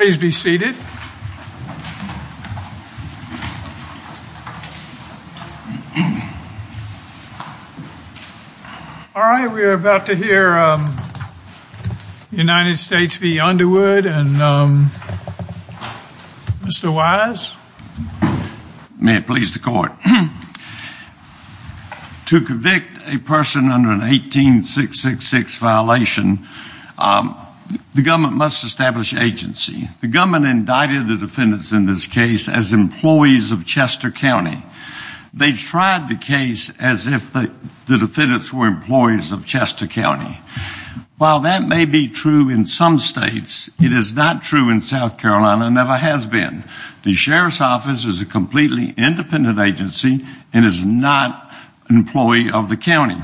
All right, we are about to hear United States v. Underwood, and Mr. Wise? May it please the court. To convict a person under an 18666 violation, the government must establish agency. The government indicted the defendants in this case as employees of Chester County. They tried the case as if the defendants were employees of Chester County. While that may be true in some states, it is not true in South Carolina and never has been. The sheriff's office is a completely independent agency and is not an employee of the county.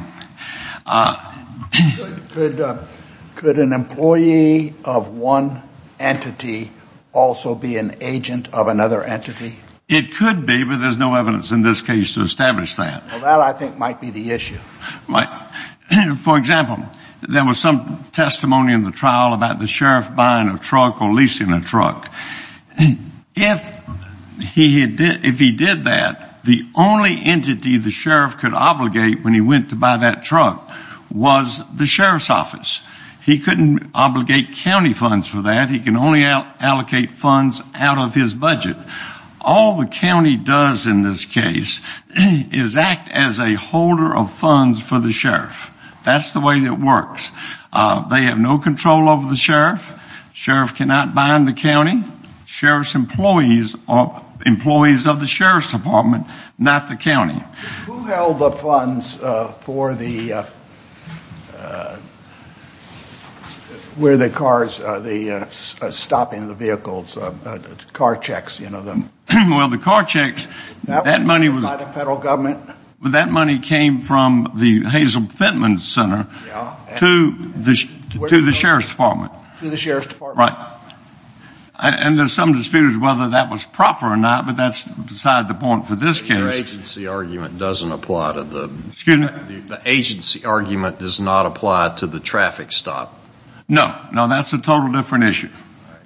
Could an employee of one entity also be an agent of another entity? It could be, but there's no evidence in this case to establish that. Well, that I think might be the issue. For example, there was some testimony in the trial about the sheriff buying a truck or leasing a truck. If he did that, the only entity the sheriff could obligate when he went to buy that truck was the sheriff's office. He couldn't obligate county funds for that. He can only allocate funds out of his budget. All the county does in this case is act as a holder of funds for the sheriff. That's the way it works. They have no control over the sheriff. Sheriff cannot buy in the county. Sheriff's employees are employees of the sheriff's department, not the county. Who held the funds for where the cars, stopping the vehicles, car checks? Well, the car checks, that money came from the Hazel Fentman Center to the sheriff's department. To the sheriff's department. Right. And there's some dispute as to whether that was proper or not, but that's beside the point for this case. So the agency argument doesn't apply to the traffic stop? No. No, that's a totally different issue.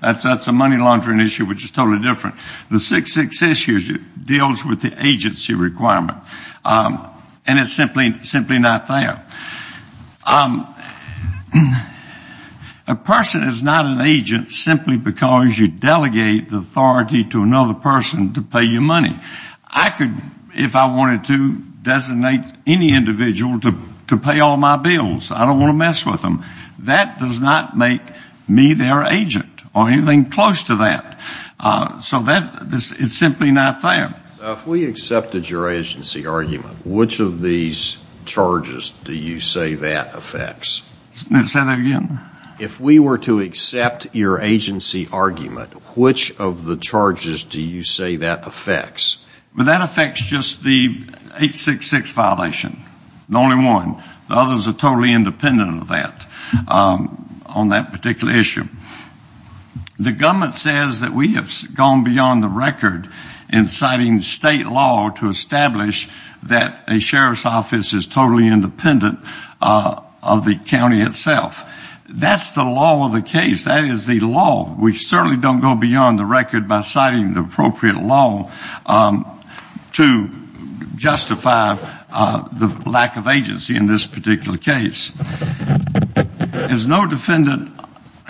That's a money laundering issue which is totally different. The 666 issue deals with the agency requirement, and it's simply not there. A person is not an agent simply because you delegate the authority to another person to pay you money. I could, if I wanted to, designate any individual to pay all my bills. I don't want to mess with them. That does not make me their agent or anything close to that. So it's simply not there. So if we accepted your agency argument, which of these charges do you say that affects? Say that again? If we were to accept your agency argument, which of the charges do you say that affects? That affects just the 866 violation, the only one. The others are totally independent of that on that particular issue. The government says that we have gone beyond the record in citing state law to establish that a sheriff's office is totally independent of the county itself. That's the law of the case. That is the law. We certainly don't go beyond the record by citing the appropriate law to justify the lack of agency in this particular case. As no defendant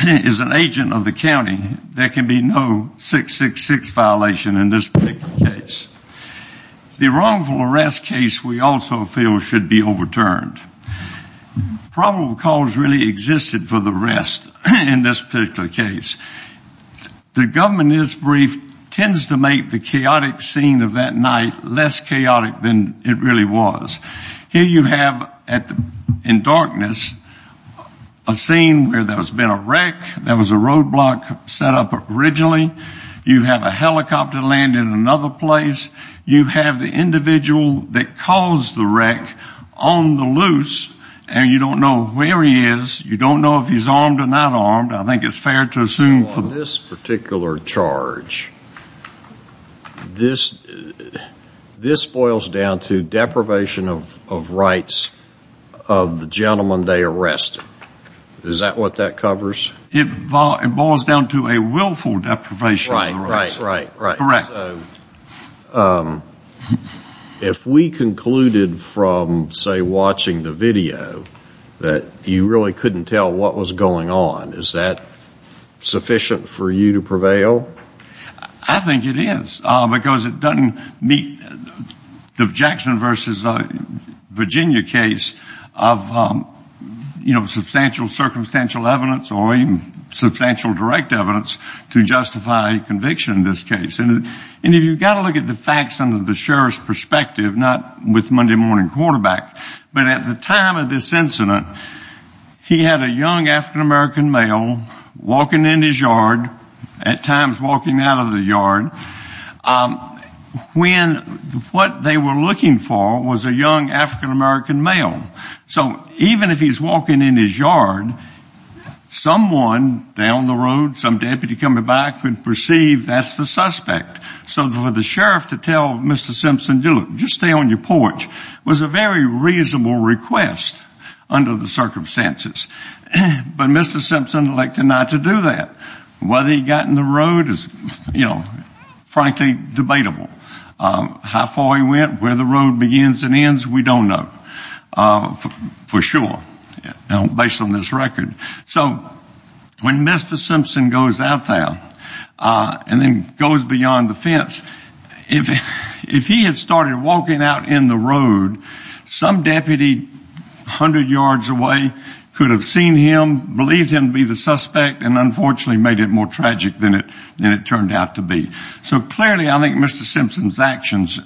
is an agent of the county, there can be no 666 violation in this particular case. The wrongful arrest case we also feel should be overturned. Probable cause really existed for the rest in this particular case. The government news brief tends to make the chaotic scene of that night less chaotic than it really was. Here you have in darkness a scene where there has been a wreck. There was a roadblock set up originally. You have a helicopter land in another place. You have the individual that caused the wreck on the loose, and you don't know where he is. You don't know if he's armed or not armed. I think it's fair to assume for this particular charge, this boils down to deprivation of rights of the gentleman they arrested. Is that what that covers? It boils down to a willful deprivation of rights. Right, right, right. Correct. So if we concluded from, say, watching the video that you really couldn't tell what was going on, is that sufficient for you to prevail? I think it is, because it doesn't meet the Jackson versus Virginia case of, you know, And if you've got to look at the facts under the sheriff's perspective, not with Monday Morning Quarterback, but at the time of this incident, he had a young African-American male walking in his yard, at times walking out of the yard, when what they were looking for was a young African-American male. So even if he's walking in his yard, someone down the road, some deputy coming by, could perceive that's the suspect. So for the sheriff to tell Mr. Simpson, just stay on your porch, was a very reasonable request under the circumstances. But Mr. Simpson elected not to do that. Whether he got in the road is, you know, frankly debatable. How far he went, where the road begins and ends, we don't know, for sure, based on this record. So when Mr. Simpson goes out there and then goes beyond the fence, if he had started walking out in the road, some deputy 100 yards away could have seen him, believed him to be the suspect, and unfortunately made it more tragic than it turned out to be. So clearly I think Mr. Simpson's actions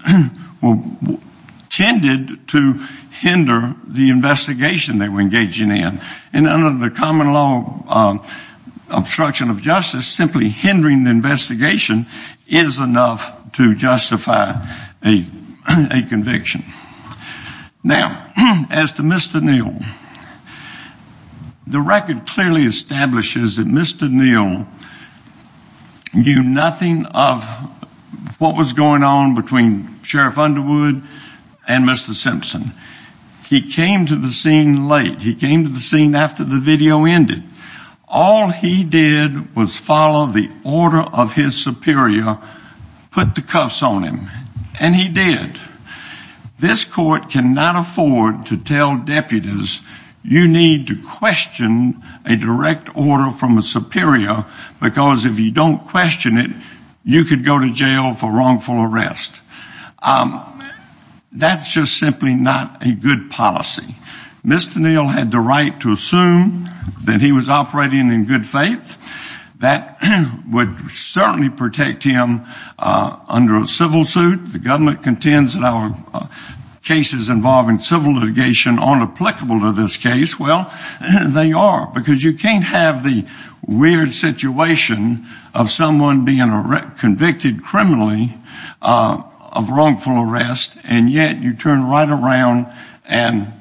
tended to hinder the investigation they were engaging in. And under the common law obstruction of justice, simply hindering the investigation is enough to justify a conviction. Now, as to Mr. Neal, the record clearly establishes that Mr. Neal knew nothing of what was going on between Sheriff Underwood and Mr. Simpson. He came to the scene late. He came to the scene after the video ended. All he did was follow the order of his superior, put the cuffs on him. And he did. This court cannot afford to tell deputies you need to question a direct order from a superior because if you don't question it, you could go to jail for wrongful arrest. That's just simply not a good policy. Mr. Neal had the right to assume that he was operating in good faith. That would certainly protect him under a civil suit. The government contends that our cases involving civil litigation aren't applicable to this case. Well, they are because you can't have the weird situation of someone being convicted criminally of wrongful arrest, and yet you turn right around and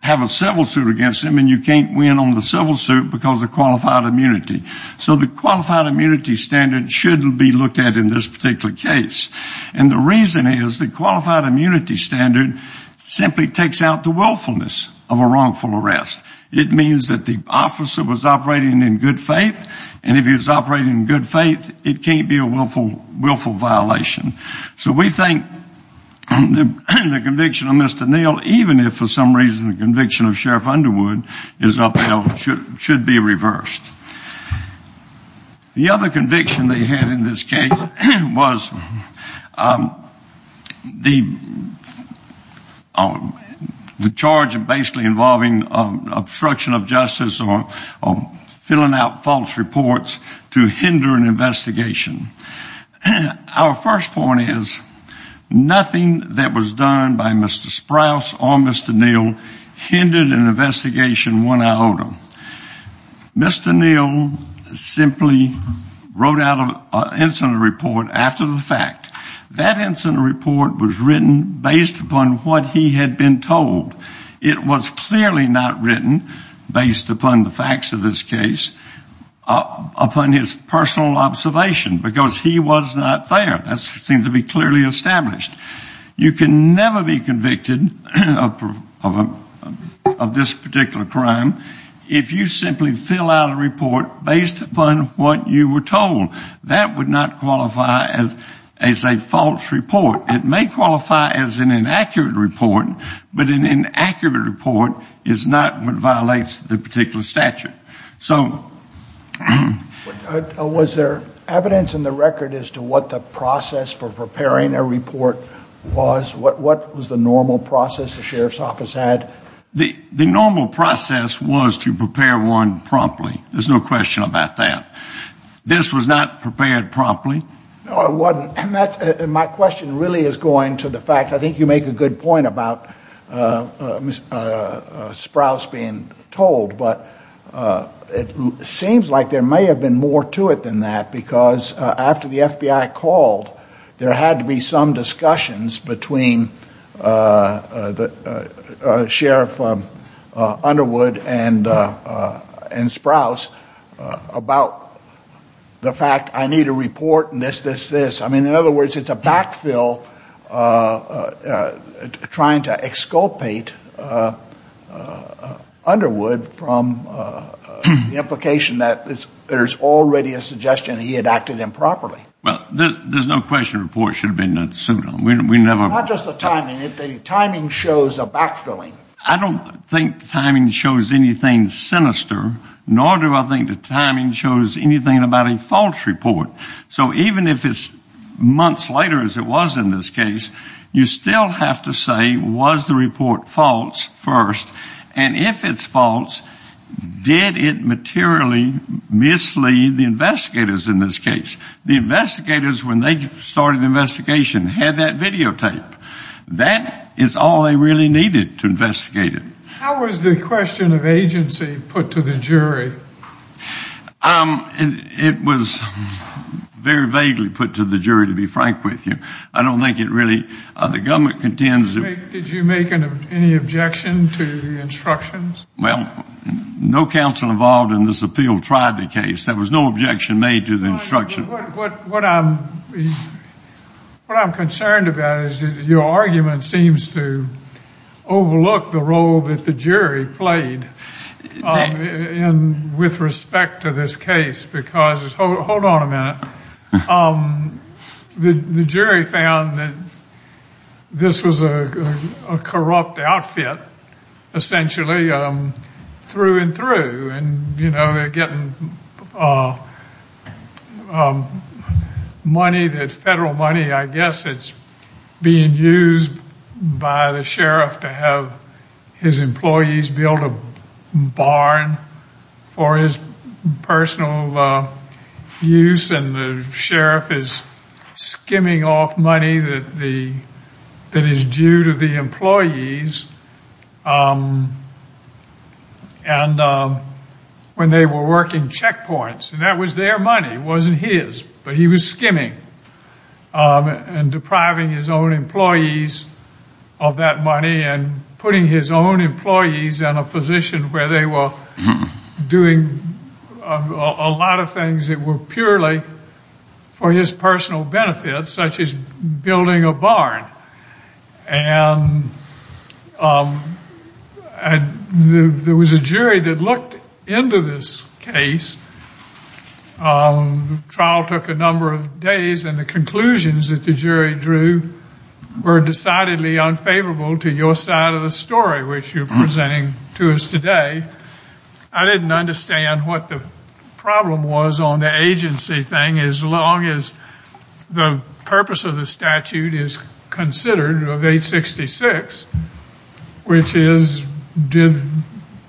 have a civil suit against them, and you can't win on the civil suit because of qualified immunity. So the qualified immunity standard shouldn't be looked at in this particular case. And the reason is the qualified immunity standard simply takes out the willfulness of a wrongful arrest. It means that the officer was operating in good faith, and if he was operating in good faith, it can't be a willful violation. So we think the conviction of Mr. Neal, even if for some reason the conviction of Sheriff Underwood is upheld, should be reversed. The other conviction they had in this case was the charge of basically involving obstruction of justice or filling out false reports to hinder an investigation. Our first point is nothing that was done by Mr. Sprouse or Mr. Neal hindered an investigation one iota. Mr. Neal simply wrote out an incident report after the fact. That incident report was written based upon what he had been told. It was clearly not written based upon the facts of this case, upon his personal observation, because he was not there. That seemed to be clearly established. You can never be convicted of this particular crime if you simply fill out a report based upon what you were told. That would not qualify as a false report. It may qualify as an inaccurate report, but an inaccurate report is not what violates the particular statute. Was there evidence in the record as to what the process for preparing a report was? What was the normal process the sheriff's office had? The normal process was to prepare one promptly. There's no question about that. This was not prepared promptly. No, it wasn't. My question really is going to the fact, I think you make a good point about Mr. Sprouse being told, but it seems like there may have been more to it than that because after the FBI called, there had to be some discussions between Sheriff Underwood and Sprouse about the fact I need a report and this, this, this. I mean, in other words, it's a backfill trying to exculpate Underwood from the implication that there's already a suggestion he had acted improperly. Well, there's no question the report should have been sued on. We never. Not just the timing. The timing shows a backfilling. I don't think the timing shows anything sinister, nor do I think the timing shows anything about a false report. So even if it's months later as it was in this case, you still have to say, was the report false first? And if it's false, did it materially mislead the investigators in this case? The investigators, when they started the investigation, had that videotaped. That is all they really needed to investigate it. How was the question of agency put to the jury? It was very vaguely put to the jury, to be frank with you. I don't think it really, the government contends. Did you make any objection to the instructions? Well, no counsel involved in this appeal tried the case. There was no objection made to the instructions. What I'm concerned about is your argument seems to overlook the role that the jury played with respect to this case. Because hold on a minute. The jury found that this was a corrupt outfit, essentially, through and through. They're getting money, federal money, I guess, that's being used by the sheriff to have his employees build a barn for his personal use. And the sheriff is skimming off money that is due to the employees. And when they were working checkpoints, and that was their money, it wasn't his. But he was skimming and depriving his own employees of that money and putting his own employees in a position where they were doing a lot of things that were purely for his personal benefit, such as building a barn. And there was a jury that looked into this case. The trial took a number of days, and the conclusions that the jury drew were decidedly unfavorable to your side of the story, which you're presenting to us today. I didn't understand what the problem was on the agency thing, as long as the purpose of the statute is considered of 866, which is, did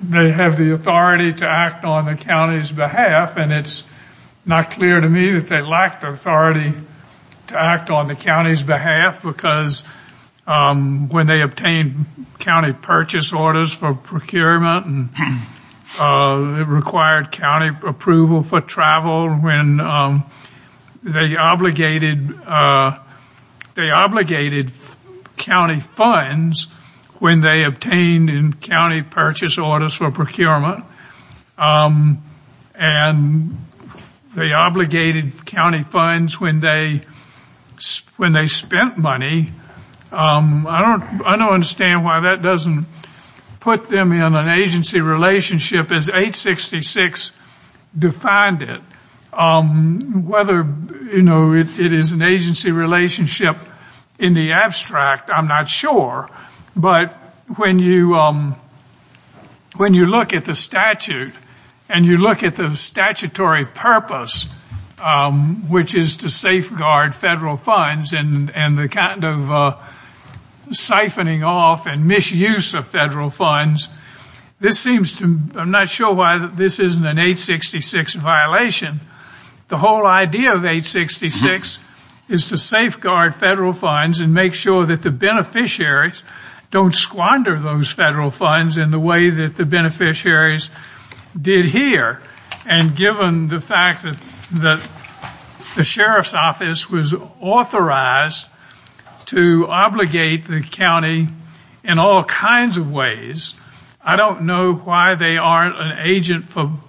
they have the authority to act on the county's behalf? And it's not clear to me that they lacked authority to act on the county's behalf, because when they obtained county purchase orders for procurement, it required county approval for travel. They obligated county funds when they obtained county purchase orders for procurement, and they obligated county funds when they spent money. I don't understand why that doesn't put them in an agency relationship, as 866 defined it. Whether it is an agency relationship in the abstract, I'm not sure, but when you look at the statute and you look at the statutory purpose, which is to safeguard federal funds and the kind of siphoning off and misuse of federal funds, I'm not sure why this isn't an 866 violation. The whole idea of 866 is to safeguard federal funds and make sure that the beneficiaries don't squander those federal funds in the way that the beneficiaries did here. And given the fact that the sheriff's office was authorized to obligate the county in all kinds of ways, I don't know why they aren't an agent for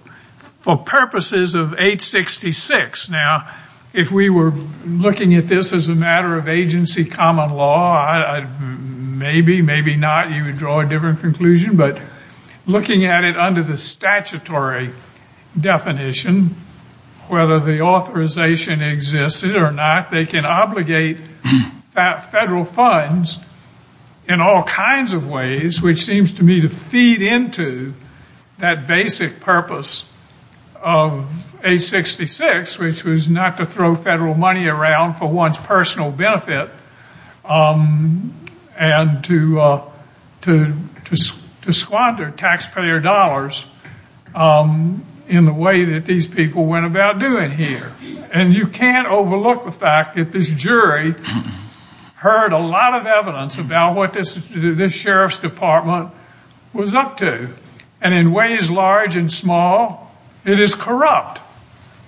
purposes of 866. Now, if we were looking at this as a matter of agency common law, maybe, maybe not. You would draw a different conclusion. But looking at it under the statutory definition, whether the authorization existed or not, they can obligate federal funds in all kinds of ways, which seems to me to feed into that basic purpose of 866, which was not to throw federal money around for one's personal benefit and to squander taxpayer dollars in the way that these people went about doing here. And you can't overlook the fact that this jury heard a lot of evidence about what this sheriff's department was up to. And in ways large and small, it is corrupt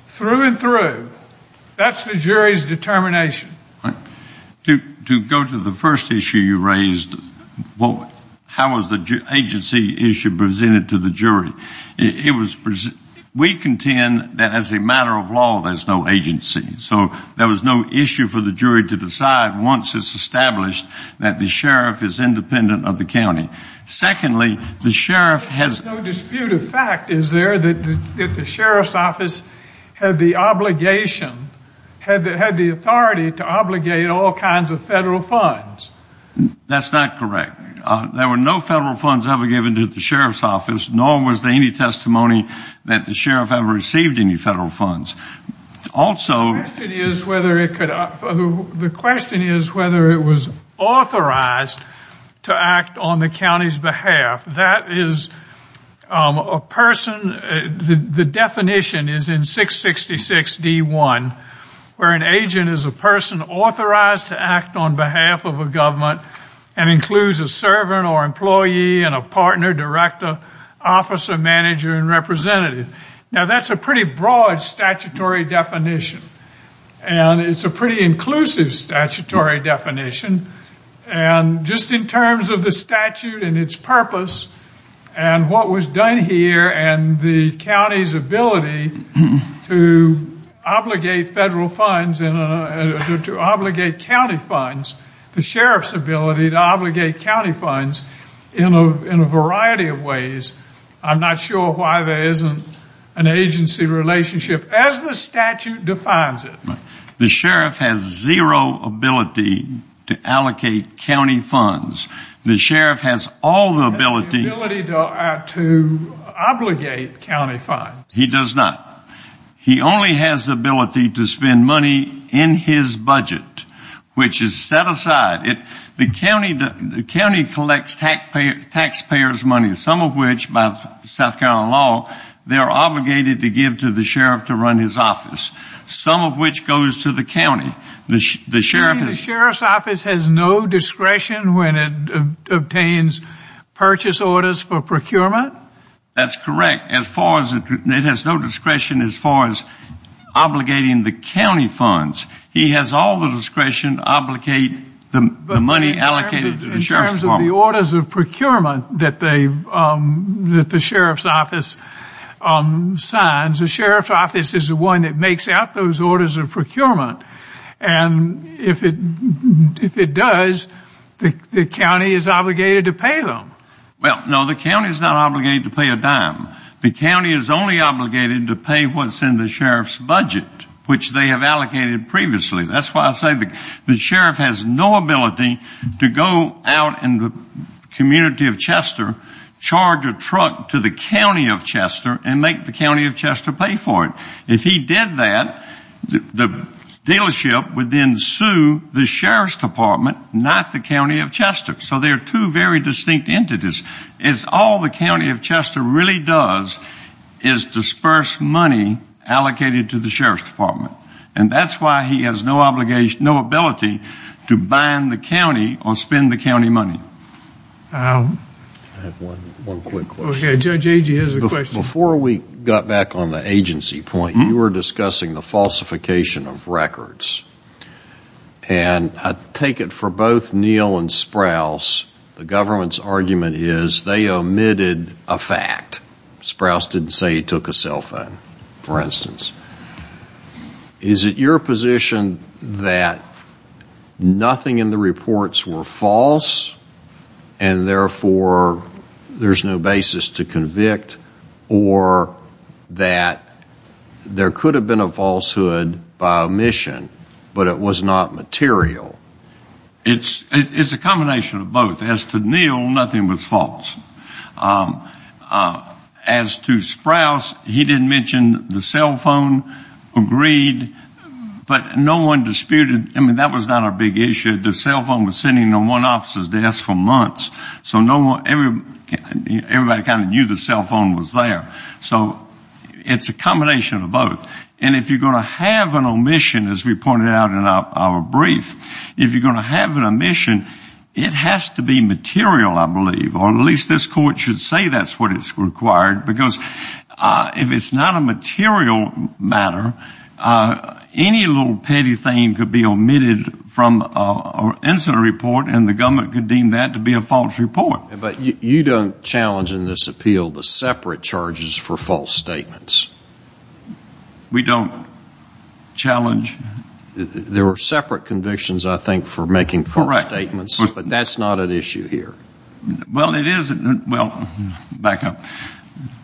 through and through. That's the jury's determination. To go to the first issue you raised, how was the agency issue presented to the jury? We contend that as a matter of law, there's no agency. So there was no issue for the jury to decide once it's established that the sheriff is independent of the county. Secondly, the sheriff has. There's no dispute of fact, is there, that the sheriff's office had the obligation, had the authority to obligate all kinds of federal funds? That's not correct. There were no federal funds ever given to the sheriff's office, nor was there any testimony that the sheriff ever received any federal funds. The question is whether it was authorized to act on the county's behalf. That is a person, the definition is in 666D1, where an agent is a person authorized to act on behalf of a government and includes a servant or employee and a partner, director, officer, manager, and representative. Now that's a pretty broad statutory definition. And it's a pretty inclusive statutory definition. And just in terms of the statute and its purpose and what was done here and the county's ability to obligate federal funds, to obligate county funds, the sheriff's ability to obligate county funds in a variety of ways. I'm not sure why there isn't an agency relationship as the statute defines it. The sheriff has zero ability to allocate county funds. The sheriff has all the ability to obligate county funds. He does not. He only has ability to spend money in his budget, which is set aside. The county collects taxpayers' money, some of which, by South Carolina law, they are obligated to give to the sheriff to run his office, some of which goes to the county. The sheriff's office has no discretion when it obtains purchase orders for procurement? That's correct. It has no discretion as far as obligating the county funds. He has all the discretion to obligate the money allocated to the sheriff's department. But in terms of the orders of procurement that the sheriff's office signs, the sheriff's office is the one that makes out those orders of procurement. And if it does, the county is obligated to pay them. Well, no, the county is not obligated to pay a dime. The county is only obligated to pay what's in the sheriff's budget, which they have allocated previously. That's why I say the sheriff has no ability to go out in the community of Chester, charge a truck to the county of Chester, and make the county of Chester pay for it. If he did that, the dealership would then sue the sheriff's department, not the county of Chester. So they are two very distinct entities. All the county of Chester really does is disperse money allocated to the sheriff's department. And that's why he has no ability to bind the county or spend the county money. I have one quick question. Judge Agee has a question. Before we got back on the agency point, you were discussing the falsification of records. And I take it for both Neal and Sprouse, the government's argument is they omitted a fact. Sprouse didn't say he took a cell phone, for instance. Is it your position that nothing in the reports were false, and therefore there's no basis to convict, or that there could have been a falsehood by omission, but it was not material? It's a combination of both. As to Neal, nothing was false. As to Sprouse, he didn't mention the cell phone, agreed, but no one disputed. I mean, that was not a big issue. The cell phone was sitting on one officer's desk for months. So everybody kind of knew the cell phone was there. So it's a combination of both. And if you're going to have an omission, as we pointed out in our brief, if you're going to have an omission, it has to be material, I believe, or at least this court should say that's what is required, because if it's not a material matter, any little petty thing could be omitted from an incident report, and the government could deem that to be a false report. But you don't challenge in this appeal the separate charges for false statements. We don't challenge. There are separate convictions, I think, for making false statements. Correct. But that's not an issue here. Well, it isn't. Well, back up.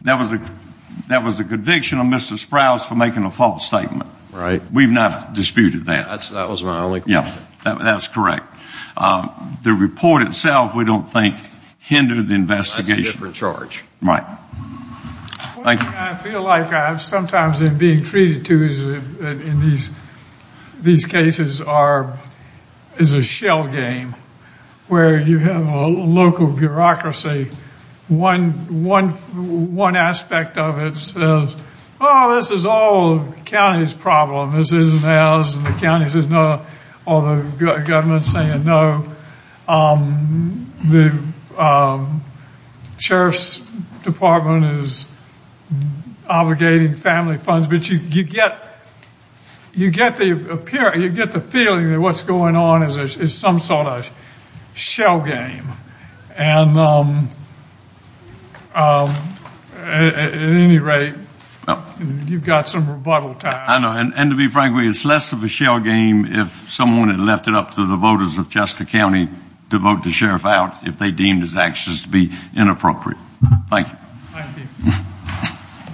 That was a conviction of Mr. Sprouse for making a false statement. Right. We've not disputed that. That was my only question. Yeah, that's correct. The report itself, we don't think, hindered the investigation. That's a different charge. Right. Thank you. I feel like sometimes in being treated to, in these cases, is a shell game, where you have a local bureaucracy. One aspect of it says, oh, this is all the county's problem. This isn't ours. This isn't the county's. This isn't all the government saying no. The sheriff's department is obligating family funds. But you get the feeling that what's going on is some sort of shell game. And at any rate, you've got some rebuttal time. I know. And to be frank with you, it's less of a shell game if someone had left it up to the voters of Chester County to vote the sheriff out if they deemed his actions to be inappropriate. Thank you. Thank you.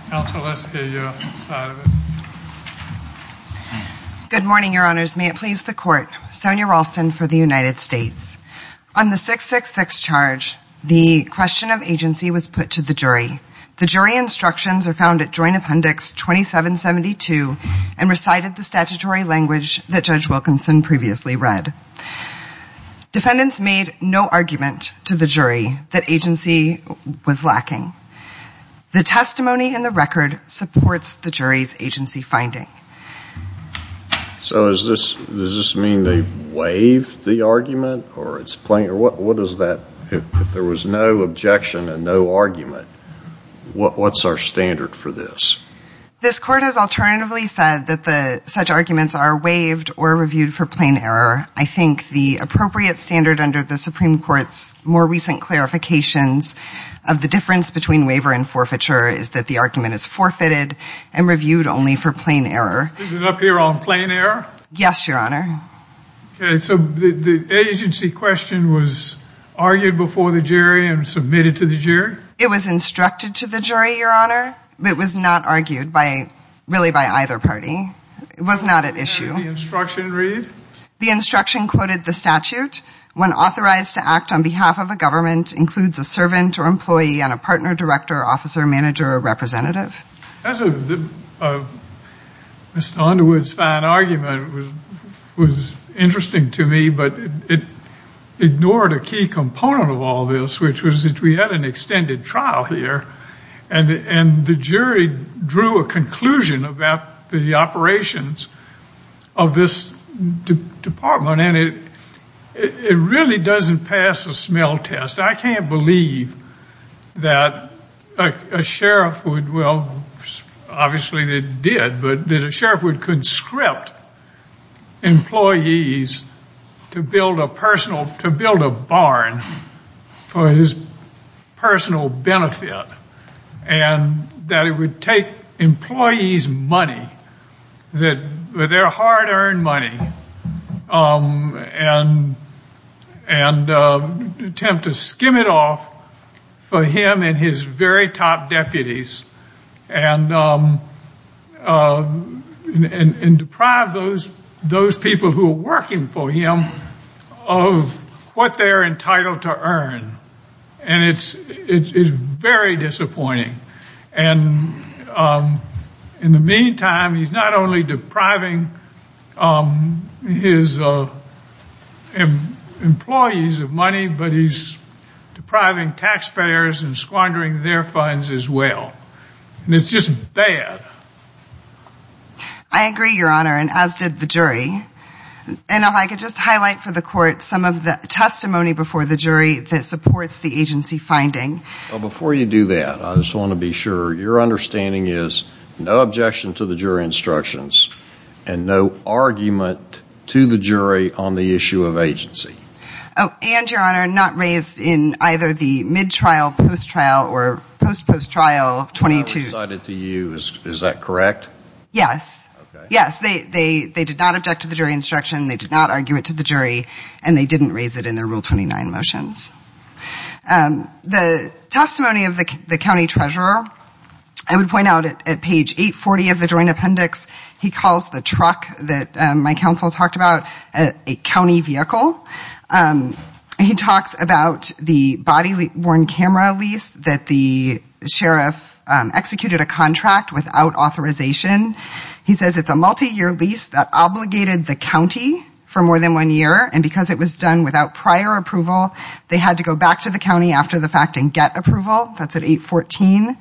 Counsel, let's hear your side of it. Good morning, Your Honors. May it please the Court. Sonya Ralston for the United States. On the 666 charge, the question of agency was put to the jury. The jury instructions are found at Joint Appendix 2772 and recited the statutory language that Judge Wilkinson previously read. Defendants made no argument to the jury that agency was lacking. The testimony in the record supports the jury's agency finding. So does this mean they waived the argument? If there was no objection and no argument, what's our standard for this? This Court has alternatively said that such arguments are waived or reviewed for plain error. I think the appropriate standard under the Supreme Court's more recent clarifications of the difference between waiver and forfeiture is that the argument is forfeited and reviewed only for plain error. Is it up here on plain error? Yes, Your Honor. Okay. So the agency question was argued before the jury and submitted to the jury? It was instructed to the jury, Your Honor. It was not argued by really by either party. It was not at issue. And the instruction read? The instruction quoted the statute. When authorized to act on behalf of a government includes a servant or employee and a partner, director, officer, manager, or representative. Mr. Underwood's fine argument was interesting to me, but it ignored a key component of all this, which was that we had an extended trial here, and the jury drew a conclusion about the operations of this department, and it really doesn't pass a smell test. I can't believe that a sheriff would, well, obviously they did, but that a sheriff would conscript employees to build a barn for his personal benefit, and that it would take employees' money, their hard-earned money, and attempt to skim it off for him and his very top deputies, and deprive those people who are working for him of what they're entitled to earn. And it's very disappointing. And in the meantime, he's not only depriving his employees of money, but he's depriving taxpayers and squandering their funds as well. And it's just bad. I agree, Your Honor, and as did the jury. And if I could just highlight for the court some of the testimony before the jury that supports the agency finding. Well, before you do that, I just want to be sure your understanding is no objection to the jury instructions, and no argument to the jury on the issue of agency. Oh, and, Your Honor, not raised in either the mid-trial, post-trial, or post-post-trial 22. Not recited to you. Is that correct? Yes. Okay. Yes, they did not object to the jury instruction, they did not argue it to the jury, and they didn't raise it in their Rule 29 motions. The testimony of the county treasurer, I would point out at page 840 of the joint appendix, he calls the truck that my counsel talked about a county vehicle. He talks about the body-worn camera lease that the sheriff executed a contract without authorization. He says it's a multi-year lease that obligated the county for more than one year, and because it was done without prior approval, they had to go back to the county after the fact and get approval. That's at 814.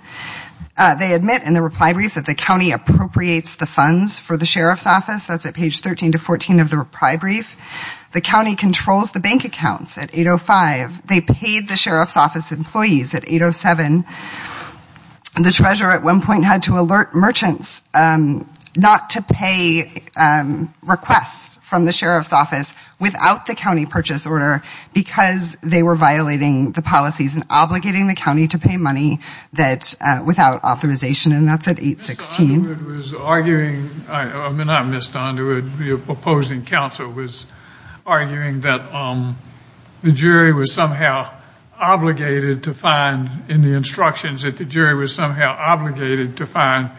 They admit in the reply brief that the county appropriates the funds for the sheriff's office. That's at page 13 to 14 of the reply brief. The county controls the bank accounts at 805. They paid the sheriff's office employees at 807. The treasurer at one point had to alert merchants not to pay requests from the sheriff's office without the county purchase order because they were violating the policies and obligating the county to pay money without authorization, and that's at 816. Mr. Underwood was arguing, I mean, not Mr. Underwood, your opposing counsel was arguing that the jury was somehow obligated to find in the instructions that the jury was somehow obligated to find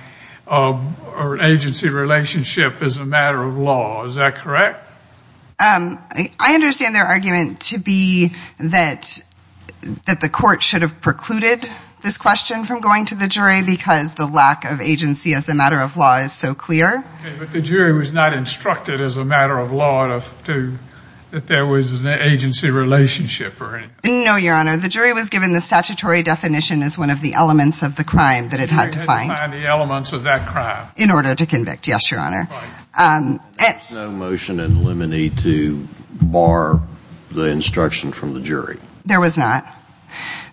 an agency relationship as a matter of law. Is that correct? I understand their argument to be that the court should have precluded this question from going to the jury because the lack of agency as a matter of law is so clear. But the jury was not instructed as a matter of law that there was an agency relationship or anything. No, Your Honor, the jury was given the statutory definition as one of the elements of the crime that it had to find. The jury had to find the elements of that crime. In order to convict, yes, Your Honor. There was no motion in limine to bar the instruction from the jury. There was not.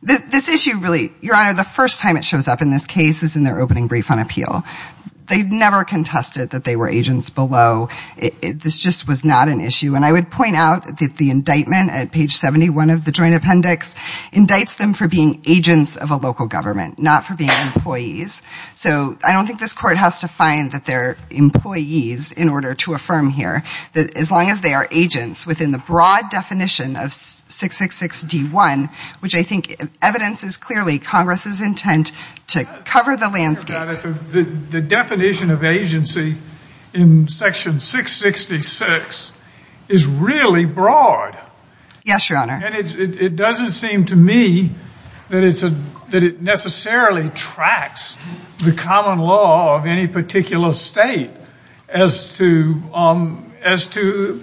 This issue really, Your Honor, the first time it shows up in this case is in their opening brief on appeal. They never contested that they were agents below. This just was not an issue. And I would point out that the indictment at page 71 of the joint appendix indicts them for being agents of a local government, not for being employees. So I don't think this court has to find that they're employees in order to affirm here. As long as they are agents within the broad definition of 666D1, which I think evidences clearly Congress's intent to cover the landscape. The definition of agency in section 666 is really broad. Yes, Your Honor. And it doesn't seem to me that it necessarily tracks the common law of any particular state as to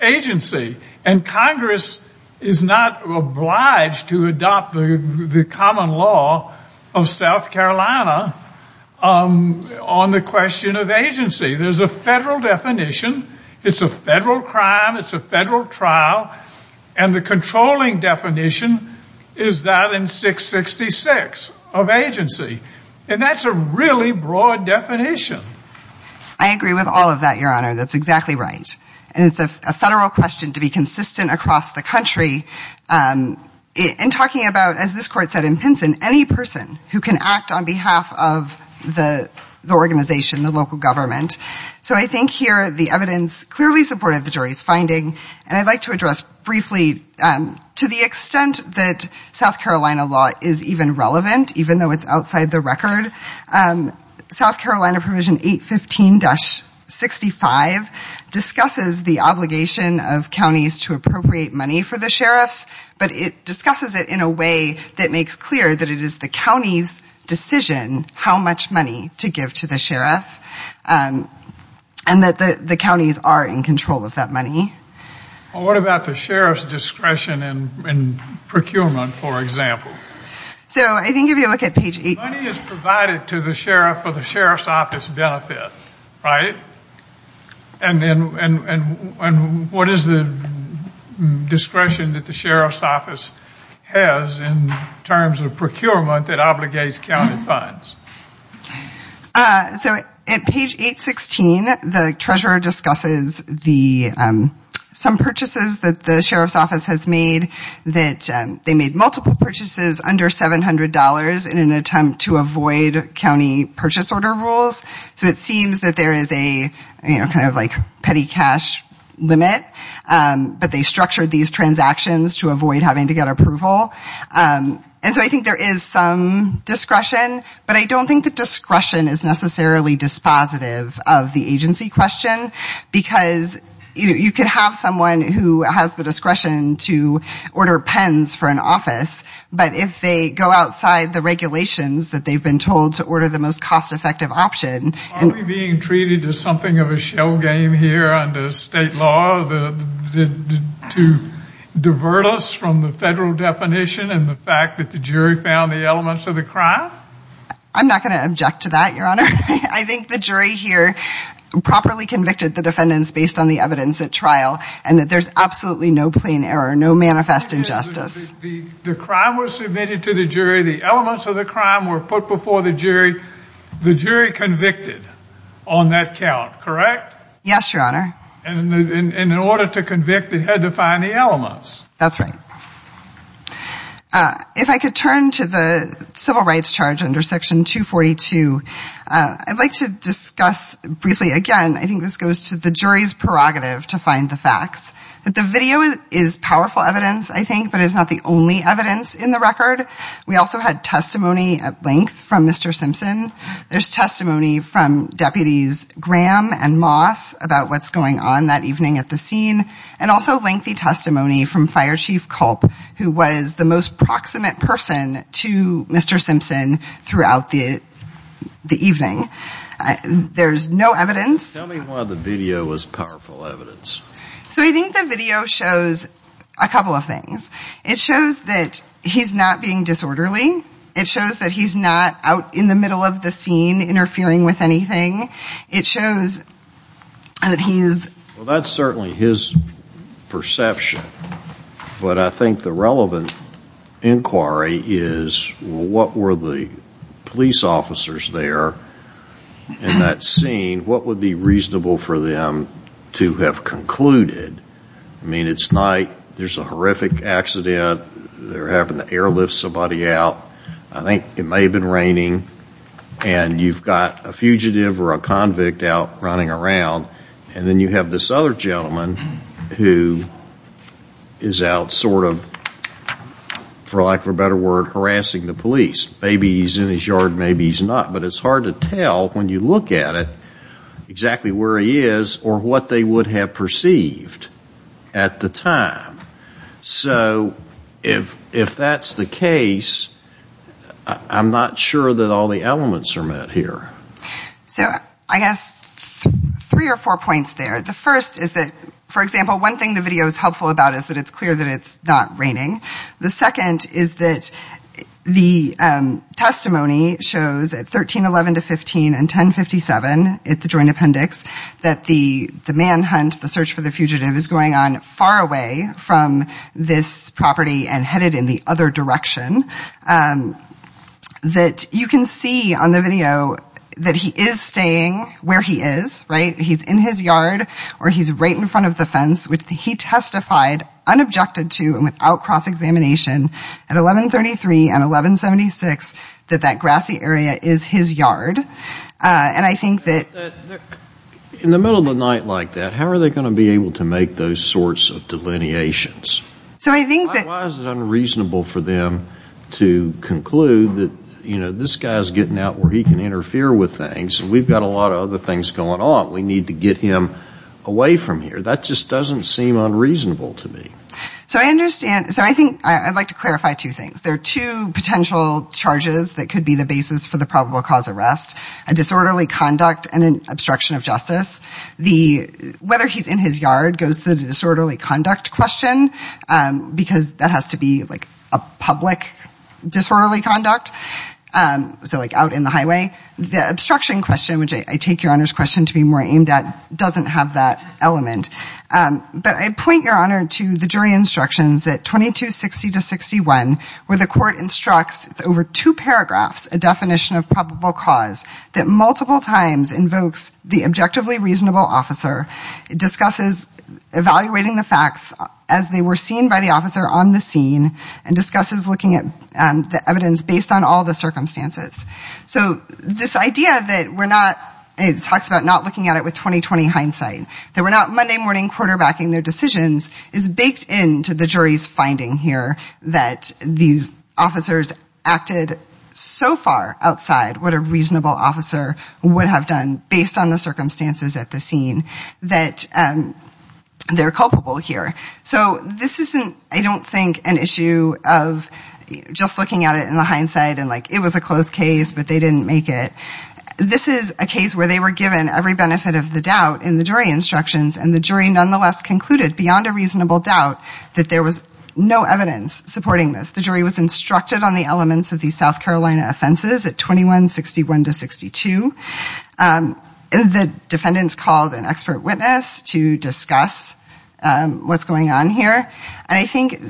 agency. And Congress is not obliged to adopt the common law of South Carolina on the question of agency. There's a federal definition. It's a federal crime. It's a federal trial. And the controlling definition is that in 666 of agency. And that's a really broad definition. I agree with all of that, Your Honor. That's exactly right. And it's a federal question to be consistent across the country in talking about, as this court said in Pinson, any person who can act on behalf of the organization, the local government. So I think here the evidence clearly supported the jury's finding. And I'd like to address briefly to the extent that South Carolina law is even relevant, even though it's outside the record. South Carolina provision 815-65 discusses the obligation of counties to appropriate money for the sheriffs, but it discusses it in a way that makes clear that it is the county's decision how much money to give to the sheriff and that the counties are in control of that money. Well, what about the sheriff's discretion in procurement, for example? So I didn't give you a look at page 8. The money is provided to the sheriff for the sheriff's office benefit, right? And what is the discretion that the sheriff's office has in terms of procurement that obligates county funds? So at page 816, the treasurer discusses some purchases that the sheriff's office has made, that they made multiple purchases under $700 in an attempt to avoid county purchase order rules. So it seems that there is a kind of like petty cash limit, but they structured these transactions to avoid having to get approval. And so I think there is some discretion, but I don't think the discretion is necessarily dispositive of the agency question, because you could have someone who has the discretion to order pens for an office, but if they go outside the regulations that they've been told to order the most cost-effective option. Are we being treated to something of a shell game here under state law to divert us from the federal definition and the fact that the jury found the elements of the crime? I'm not going to object to that, Your Honor. I think the jury here properly convicted the defendants based on the evidence at trial and that there's absolutely no plain error, no manifest injustice. The crime was submitted to the jury. The elements of the crime were put before the jury. The jury convicted on that count, correct? Yes, Your Honor. And in order to convict, it had to find the elements. That's right. If I could turn to the civil rights charge under Section 242, I'd like to discuss briefly again, I think this goes to the jury's prerogative to find the facts. The video is powerful evidence, I think, but it's not the only evidence in the record. We also had testimony at length from Mr. Simpson. There's testimony from Deputies Graham and Moss about what's going on that evening at the scene and also lengthy testimony from Fire Chief Culp, who was the most proximate person to Mr. Simpson throughout the evening. There's no evidence. Tell me why the video was powerful evidence. So I think the video shows a couple of things. It shows that he's not being disorderly. It shows that he's not out in the middle of the scene interfering with anything. It shows that he's... Well, that's certainly his perception. But I think the relevant inquiry is what were the police officers there in that scene? What would be reasonable for them to have concluded? I mean, it's night. There's a horrific accident. They're having to airlift somebody out. I think it may have been raining. And you've got a fugitive or a convict out running around. And then you have this other gentleman who is out sort of, for lack of a better word, harassing the police. Maybe he's in his yard. Maybe he's not. But it's hard to tell when you look at it exactly where he is or what they would have perceived at the time. So if that's the case, I'm not sure that all the elements are met here. So I guess three or four points there. The first is that, for example, one thing the video is helpful about is that it's clear that it's not raining. The second is that the testimony shows at 1311 to 15 and 1057 at the joint appendix that the manhunt, the search for the fugitive, is going on far away from this property and headed in the other direction. That you can see on the video that he is staying where he is, right? He's in his yard or he's right in front of the fence. He testified, unobjected to and without cross-examination, at 1133 and 1176 that that grassy area is his yard. And I think that... In the middle of the night like that, how are they going to be able to make those sorts of delineations? So I think that... To conclude that this guy is getting out where he can interfere with things. We've got a lot of other things going on. We need to get him away from here. That just doesn't seem unreasonable to me. So I understand. So I think I'd like to clarify two things. There are two potential charges that could be the basis for the probable cause arrest. A disorderly conduct and an obstruction of justice. Whether he's in his yard goes to the disorderly conduct question. Because that has to be like a public disorderly conduct. So like out in the highway. The obstruction question, which I take Your Honor's question to be more aimed at, doesn't have that element. But I point, Your Honor, to the jury instructions at 2260-61 where the court instructs over two paragraphs a definition of probable cause that multiple times invokes the objectively reasonable officer. It discusses evaluating the facts as they were seen by the officer on the scene. And discusses looking at the evidence based on all the circumstances. So this idea that we're not... It talks about not looking at it with 20-20 hindsight. That we're not Monday morning quarterbacking their decisions is baked into the jury's finding here that these officers acted so far outside what a reasonable officer would have done based on the circumstances at the scene. That they're culpable here. So this isn't, I don't think, an issue of just looking at it in the hindsight and like it was a close case but they didn't make it. This is a case where they were given every benefit of the doubt in the jury instructions. And the jury nonetheless concluded beyond a reasonable doubt that there was no evidence supporting this. The jury was instructed on the elements of these South Carolina offenses at 2161-62. The defendants called an expert witness to discuss what's going on here. And I think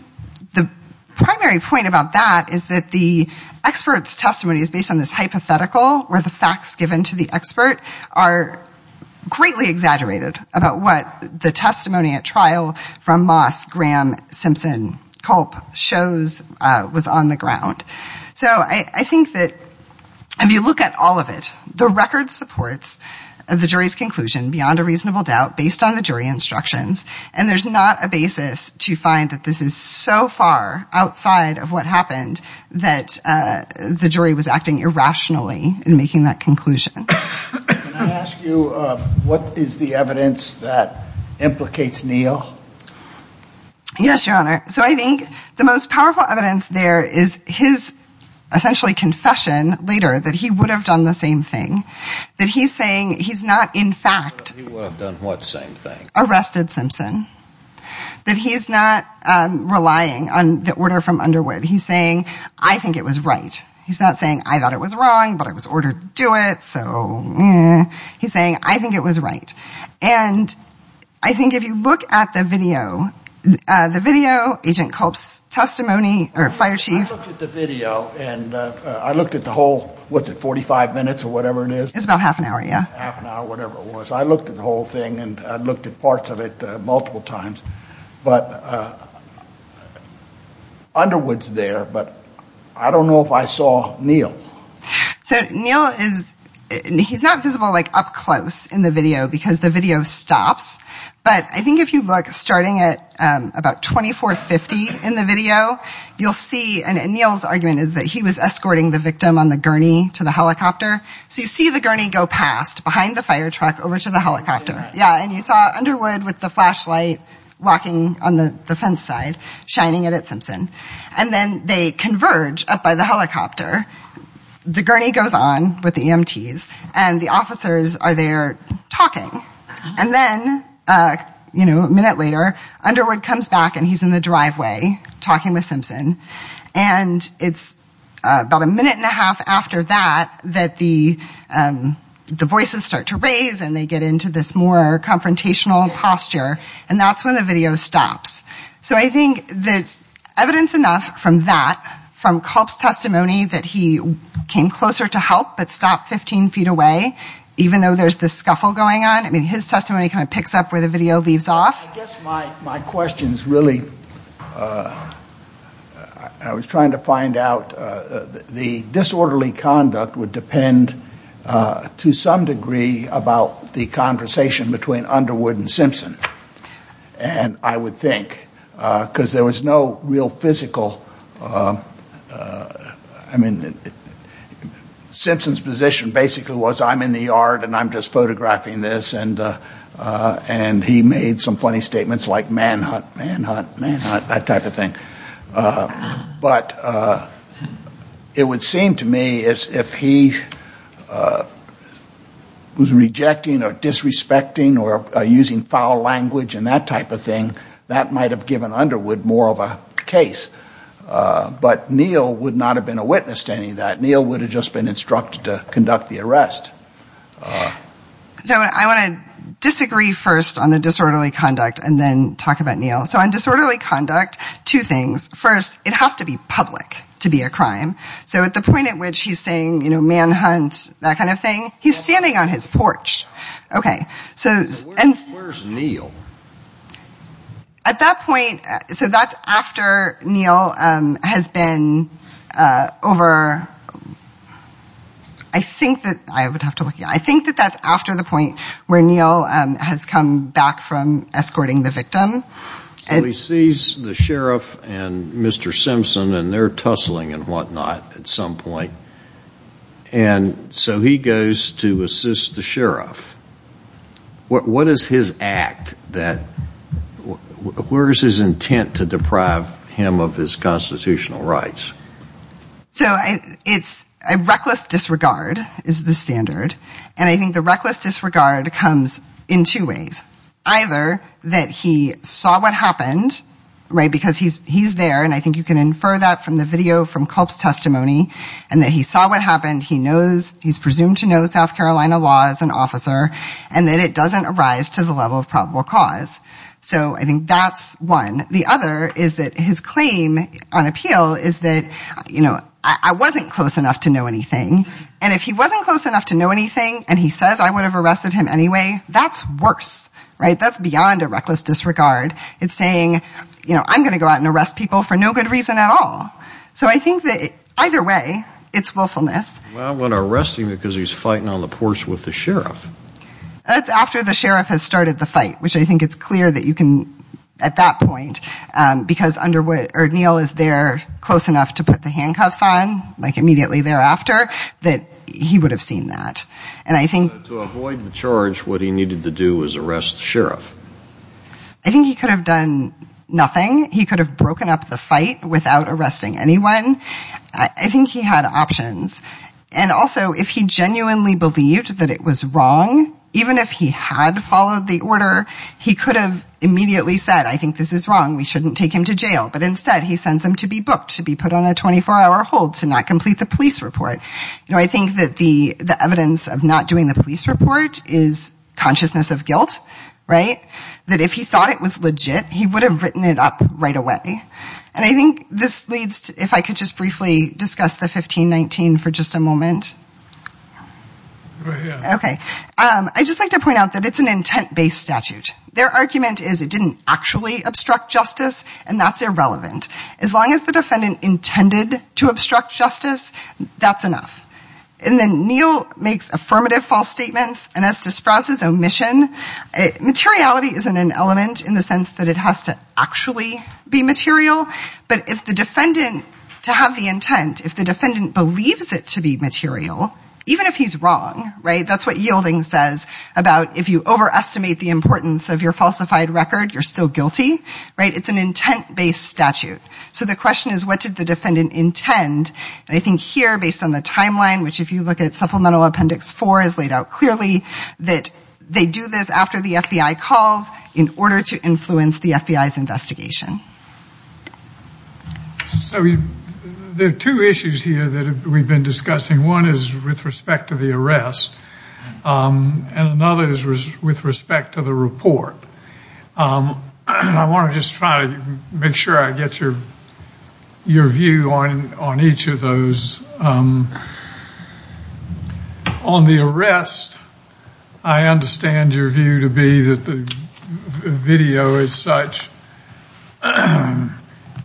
the primary point about that is that the expert's testimony is based on this hypothetical where the facts given to the expert are greatly exaggerated about what the testimony at trial from Moss, Graham, Simpson, Culp shows was on the ground. So I think that if you look at all of it, the record supports the jury's conclusion beyond a reasonable doubt based on the jury instructions. And there's not a basis to find that this is so far outside of what happened that the jury was acting irrationally in making that conclusion. Can I ask you what is the evidence that implicates Neal? Yes, Your Honor. So I think the most powerful evidence there is his essentially confession later that he would have done the same thing. That he's saying he's not in fact arrested Simpson. That he's not relying on the order from Underwood. He's saying, I think it was right. He's not saying, I thought it was wrong, but I was ordered to do it, so eh. He's saying, I think it was right. And I think if you look at the video, the video, Agent Culp's testimony, or Fire Chief. I looked at the video and I looked at the whole, was it 45 minutes or whatever it is? It was about half an hour, yeah. Half an hour, whatever it was. I looked at the whole thing and I looked at parts of it multiple times. But Underwood's there, but I don't know if I saw Neal. So Neal is, he's not visible like up close in the video because the video stops. But I think if you look, starting at about 2450 in the video, you'll see, and Neal's argument is that he was escorting the victim on the gurney to the helicopter. So you see the gurney go past behind the fire truck over to the helicopter. Yeah, and you saw Underwood with the flashlight walking on the fence side, shining it at Simpson. And then they converge up by the helicopter. The gurney goes on with the EMTs and the officers are there talking. And then, you know, a minute later, Underwood comes back and he's in the driveway talking with Simpson. And it's about a minute and a half after that that the voices start to raise and they get into this more confrontational posture. And that's when the video stops. So I think there's evidence enough from that, from Culp's testimony, that he came closer to help but stopped 15 feet away, even though there's this scuffle going on. I mean, his testimony kind of picks up where the video leaves off. I guess my question is really, I was trying to find out, the disorderly conduct would depend to some degree about the conversation between Underwood and Simpson. And I would think, because there was no real physical, I mean, Simpson's position basically was I'm in the yard and I'm just photographing this. And he made some funny statements like manhunt, manhunt, manhunt, that type of thing. But it would seem to me as if he was rejecting or disrespecting or using foul language and that type of thing, that might have given Underwood more of a case. But Neal would not have been a witness to any of that. Neal would have just been instructed to conduct the arrest. So I want to disagree first on the disorderly conduct and then talk about Neal. So on disorderly conduct, two things. First, it has to be public to be a crime. So at the point at which he's saying manhunt, that kind of thing, he's standing on his porch. Where's Neal? At that point, so that's after Neal has been over, I think that's after the point where Neal has come back from escorting the victim. So he sees the sheriff and Mr. Simpson and they're tussling and whatnot at some point. And so he goes to assist the sheriff. What is his act that, where is his intent to deprive him of his constitutional rights? So it's a reckless disregard is the standard. And I think the reckless disregard comes in two ways. Either that he saw what happened, right, because he's there, and I think you can infer that from the video from Culp's testimony, and that he saw what happened. He knows, he's presumed to know South Carolina law as an officer and that it doesn't arise to the level of probable cause. So I think that's one. The other is that his claim on appeal is that, you know, I wasn't close enough to know anything. And if he wasn't close enough to know anything and he says I would have arrested him anyway, that's worse, right? That's beyond a reckless disregard. It's saying, you know, I'm going to go out and arrest people for no good reason at all. So I think that either way, it's willfulness. Well, I wouldn't arrest him because he's fighting on the porch with the sheriff. That's after the sheriff has started the fight, which I think it's clear that you can, at that point, because under what O'Neill is there close enough to put the handcuffs on, like immediately thereafter, that he would have seen that. And I think. To avoid the charge, what he needed to do was arrest the sheriff. I think he could have done nothing. He could have broken up the fight without arresting anyone. I think he had options. And also, if he genuinely believed that it was wrong, even if he had followed the order, he could have immediately said, I think this is wrong. We shouldn't take him to jail. But instead, he sends him to be booked, to be put on a 24-hour hold, to not complete the police report. You know, I think that the evidence of not doing the police report is consciousness of guilt, right? That if he thought it was legit, he would have written it up right away. And I think this leads, if I could just briefly discuss the 1519 for just a moment. OK. I just like to point out that it's an intent based statute. Their argument is it didn't actually obstruct justice. And that's irrelevant. As long as the defendant intended to obstruct justice, that's enough. And then Neal makes affirmative false statements. And as to Sprouse's omission, materiality isn't an element in the sense that it has to actually be material. But if the defendant, to have the intent, if the defendant believes it to be material, even if he's wrong, right? That's what Yielding says about if you overestimate the importance of your falsified record, you're still guilty, right? It's an intent based statute. So the question is, what did the defendant intend? And I think here, based on the timeline, which if you look at supplemental appendix four is laid out clearly, that they do this after the FBI calls in order to influence the FBI's investigation. So there are two issues here that we've been discussing. One is with respect to the arrest. And another is with respect to the report. And I want to just try to make sure I get your view on each of those. On the arrest, I understand your view to be that the video, as such,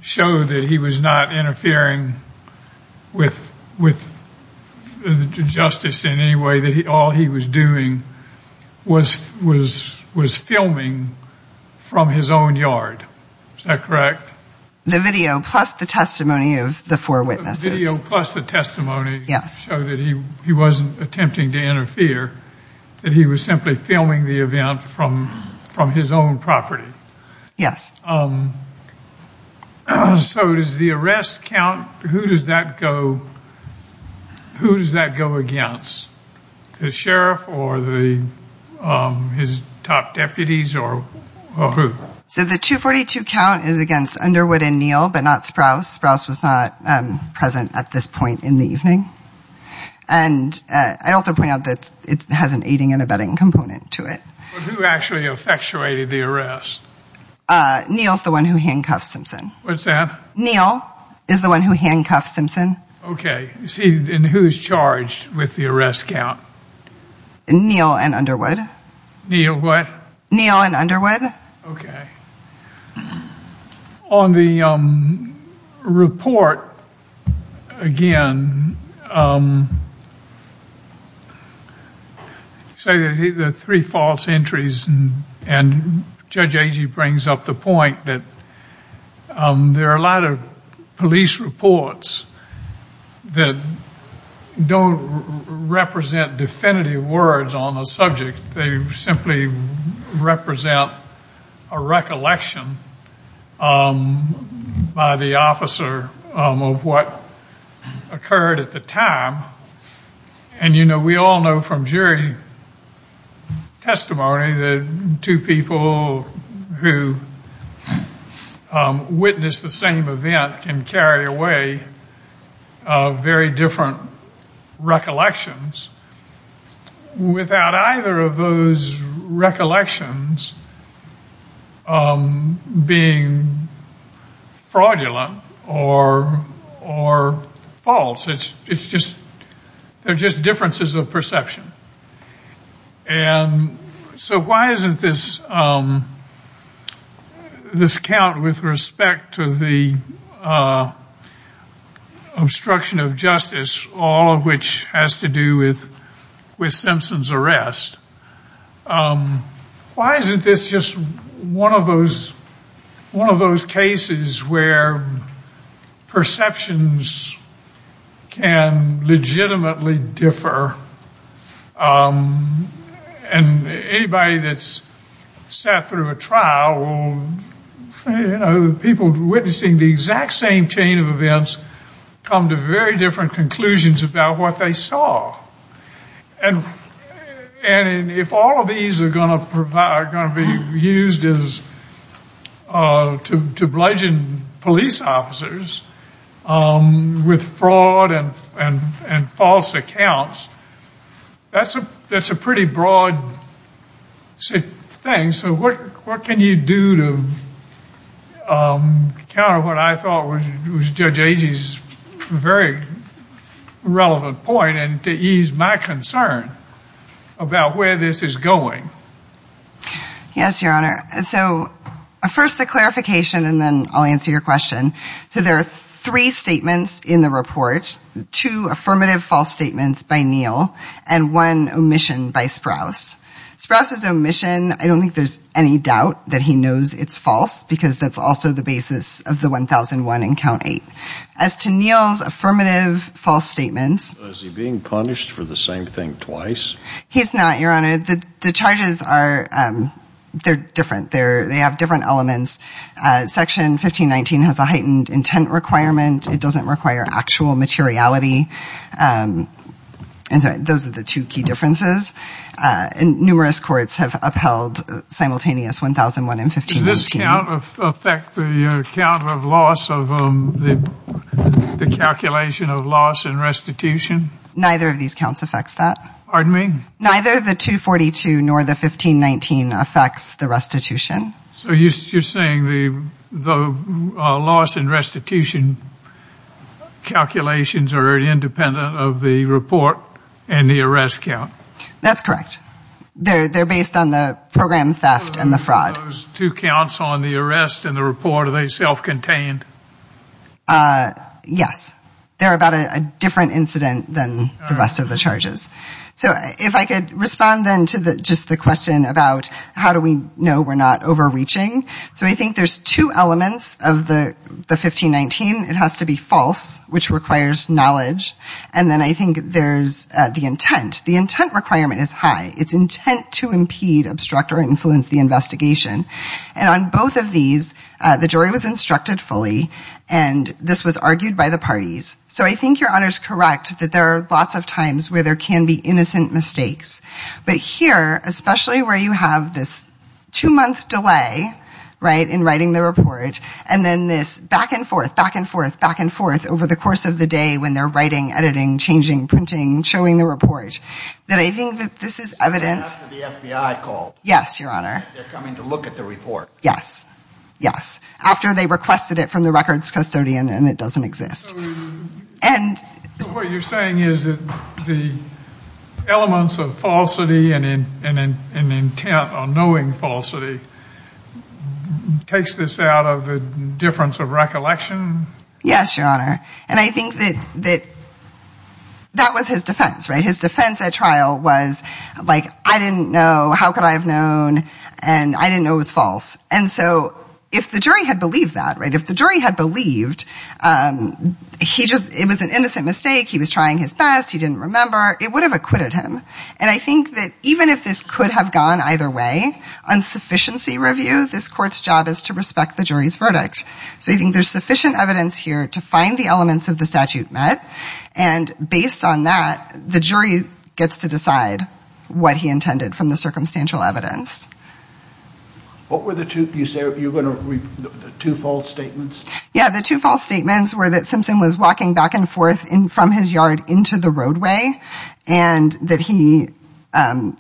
showed that he was not interfering with justice in any way, that all he was doing was filming from his own yard. Is that correct? The video plus the testimony of the four witnesses. The video plus the testimony showed that he wasn't attempting to interfere, that he was simply filming the event from his own property. Yes. So does the arrest count? Who does that go against, the sheriff or his top deputies or who? So the 242 count is against Underwood and Neal, but not Sprouse. Sprouse was not present at this point in the evening. And I'd also point out that it has an aiding and abetting component to it. Who actually effectuated the arrest? Neal's the one who handcuffs Simpson. What's that? Neal is the one who handcuffs Simpson. Okay. And who's charged with the arrest count? Neal and Underwood. Neal what? Neal and Underwood. Okay. On the report, again, the three false entries, and Judge Agee brings up the point that there are a lot of police reports that don't represent definitive words on the subject. They simply represent a recollection by the officer of what occurred at the time. And, you know, we all know from jury testimony that two people who witnessed the same event can carry away very different recollections. Without either of those recollections being fraudulent or false. It's just differences of perception. And so why isn't this count with respect to the obstruction of justice, all of which has to do with Simpson's arrest, why isn't this just one of those cases where perceptions can legitimately differ? And anybody that's sat through a trial, you know, people witnessing the exact same chain of events come to very different conclusions about what they saw. And if all of these are going to be used to bludgeon police officers with fraud and false accounts, that's a pretty broad thing. And so what can you do to counter what I thought was Judge Agee's very relevant point and to ease my concern about where this is going? Yes, Your Honor. So first a clarification and then I'll answer your question. So there are three statements in the report, two affirmative false statements by Neal and one omission by Sprouse. Sprouse's omission, I don't think there's any doubt that he knows it's false because that's also the basis of the 1001 in Count 8. As to Neal's affirmative false statements. Is he being punished for the same thing twice? He's not, Your Honor. The charges are different. They have different elements. Section 1519 has a heightened intent requirement. It doesn't require actual materiality. Those are the two key differences. Numerous courts have upheld simultaneous 1001 and 1519. Does this count affect the count of loss of the calculation of loss and restitution? Neither of these counts affects that. Pardon me? Neither the 242 nor the 1519 affects the restitution. So you're saying the loss and restitution calculations are independent of the report and the arrest count? That's correct. They're based on the program theft and the fraud. So those two counts on the arrest and the report, are they self-contained? Yes. They're about a different incident than the rest of the charges. So if I could respond then to just the question about how do we know we're not overreaching. So I think there's two elements of the 1519. It has to be false, which requires knowledge. And then I think there's the intent. The intent requirement is high. It's intent to impede, obstruct, or influence the investigation. And on both of these, the jury was instructed fully, and this was argued by the parties. So I think Your Honor's correct that there are lots of times where there can be innocent mistakes. But here, especially where you have this two-month delay, right, in writing the report, and then this back and forth, back and forth, back and forth over the course of the day when they're writing, editing, changing, printing, showing the report, that I think that this is evident. After the FBI called. Yes, Your Honor. They're coming to look at the report. Yes. Yes. After they requested it from the records custodian and it doesn't exist. So what you're saying is that the elements of falsity and intent on knowing falsity takes this out of the difference of recollection? Yes, Your Honor. And I think that that was his defense, right? His defense at trial was, like, I didn't know. How could I have known? And I didn't know it was false. And so if the jury had believed that, right, if the jury had believed it was an innocent mistake, he was trying his best, he didn't remember, it would have acquitted him. And I think that even if this could have gone either way, on sufficiency review, this court's job is to respect the jury's verdict. So I think there's sufficient evidence here to find the elements of the statute met. And based on that, the jury gets to decide what he intended from the circumstantial evidence. What were the two, you say, two false statements? Yeah, the two false statements were that Simpson was walking back and forth from his yard into the roadway and that he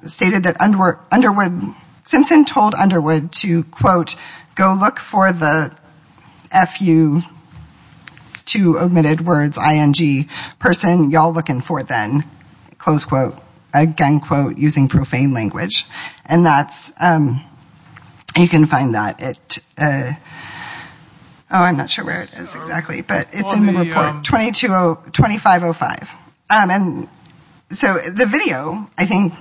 stated that Underwood, Simpson told Underwood to, quote, go look for the F-U, two omitted words, I-N-G, person y'all looking for then, close quote, again, quote, using profane language. And that's, you can find that at, oh, I'm not sure where it is exactly. But it's in the report, 2205. And so the video, I think,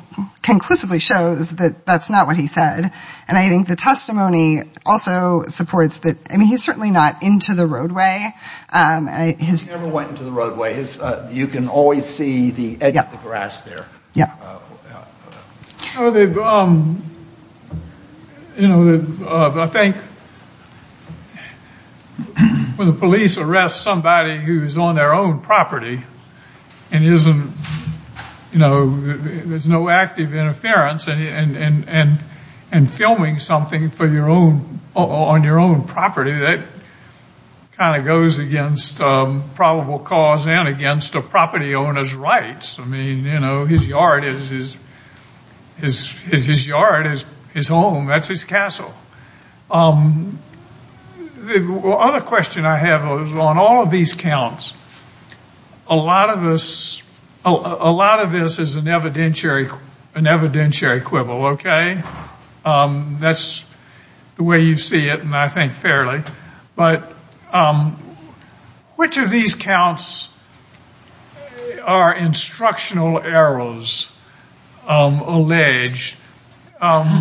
conclusively shows that that's not what he said. And I think the testimony also supports that, I mean, he's certainly not into the roadway. He never went into the roadway. You can always see the edge of the grass there. Yeah. Well, they've, you know, I think when the police arrest somebody who's on their own property and isn't, you know, there's no active interference and filming something for your own, on your own property, that kind of goes against probable cause and against a property owner's rights. I mean, you know, his yard is his yard, his home, that's his castle. The other question I have is on all of these counts, a lot of this is an evidentiary quibble, okay? That's the way you see it, and I think fairly. But which of these counts are instructional errors alleged? By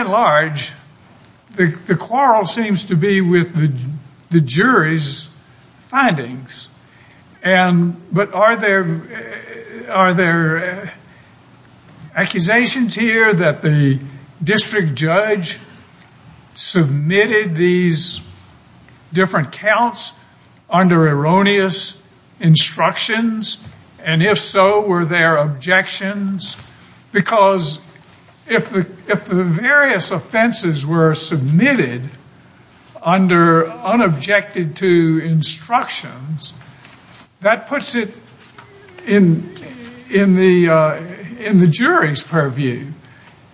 and large, the quarrel seems to be with the jury's findings. But are there accusations here that the district judge submitted these different counts under erroneous instructions? And if so, were there objections? Because if the various offenses were submitted under unobjected to instructions, that puts it in the jury's purview.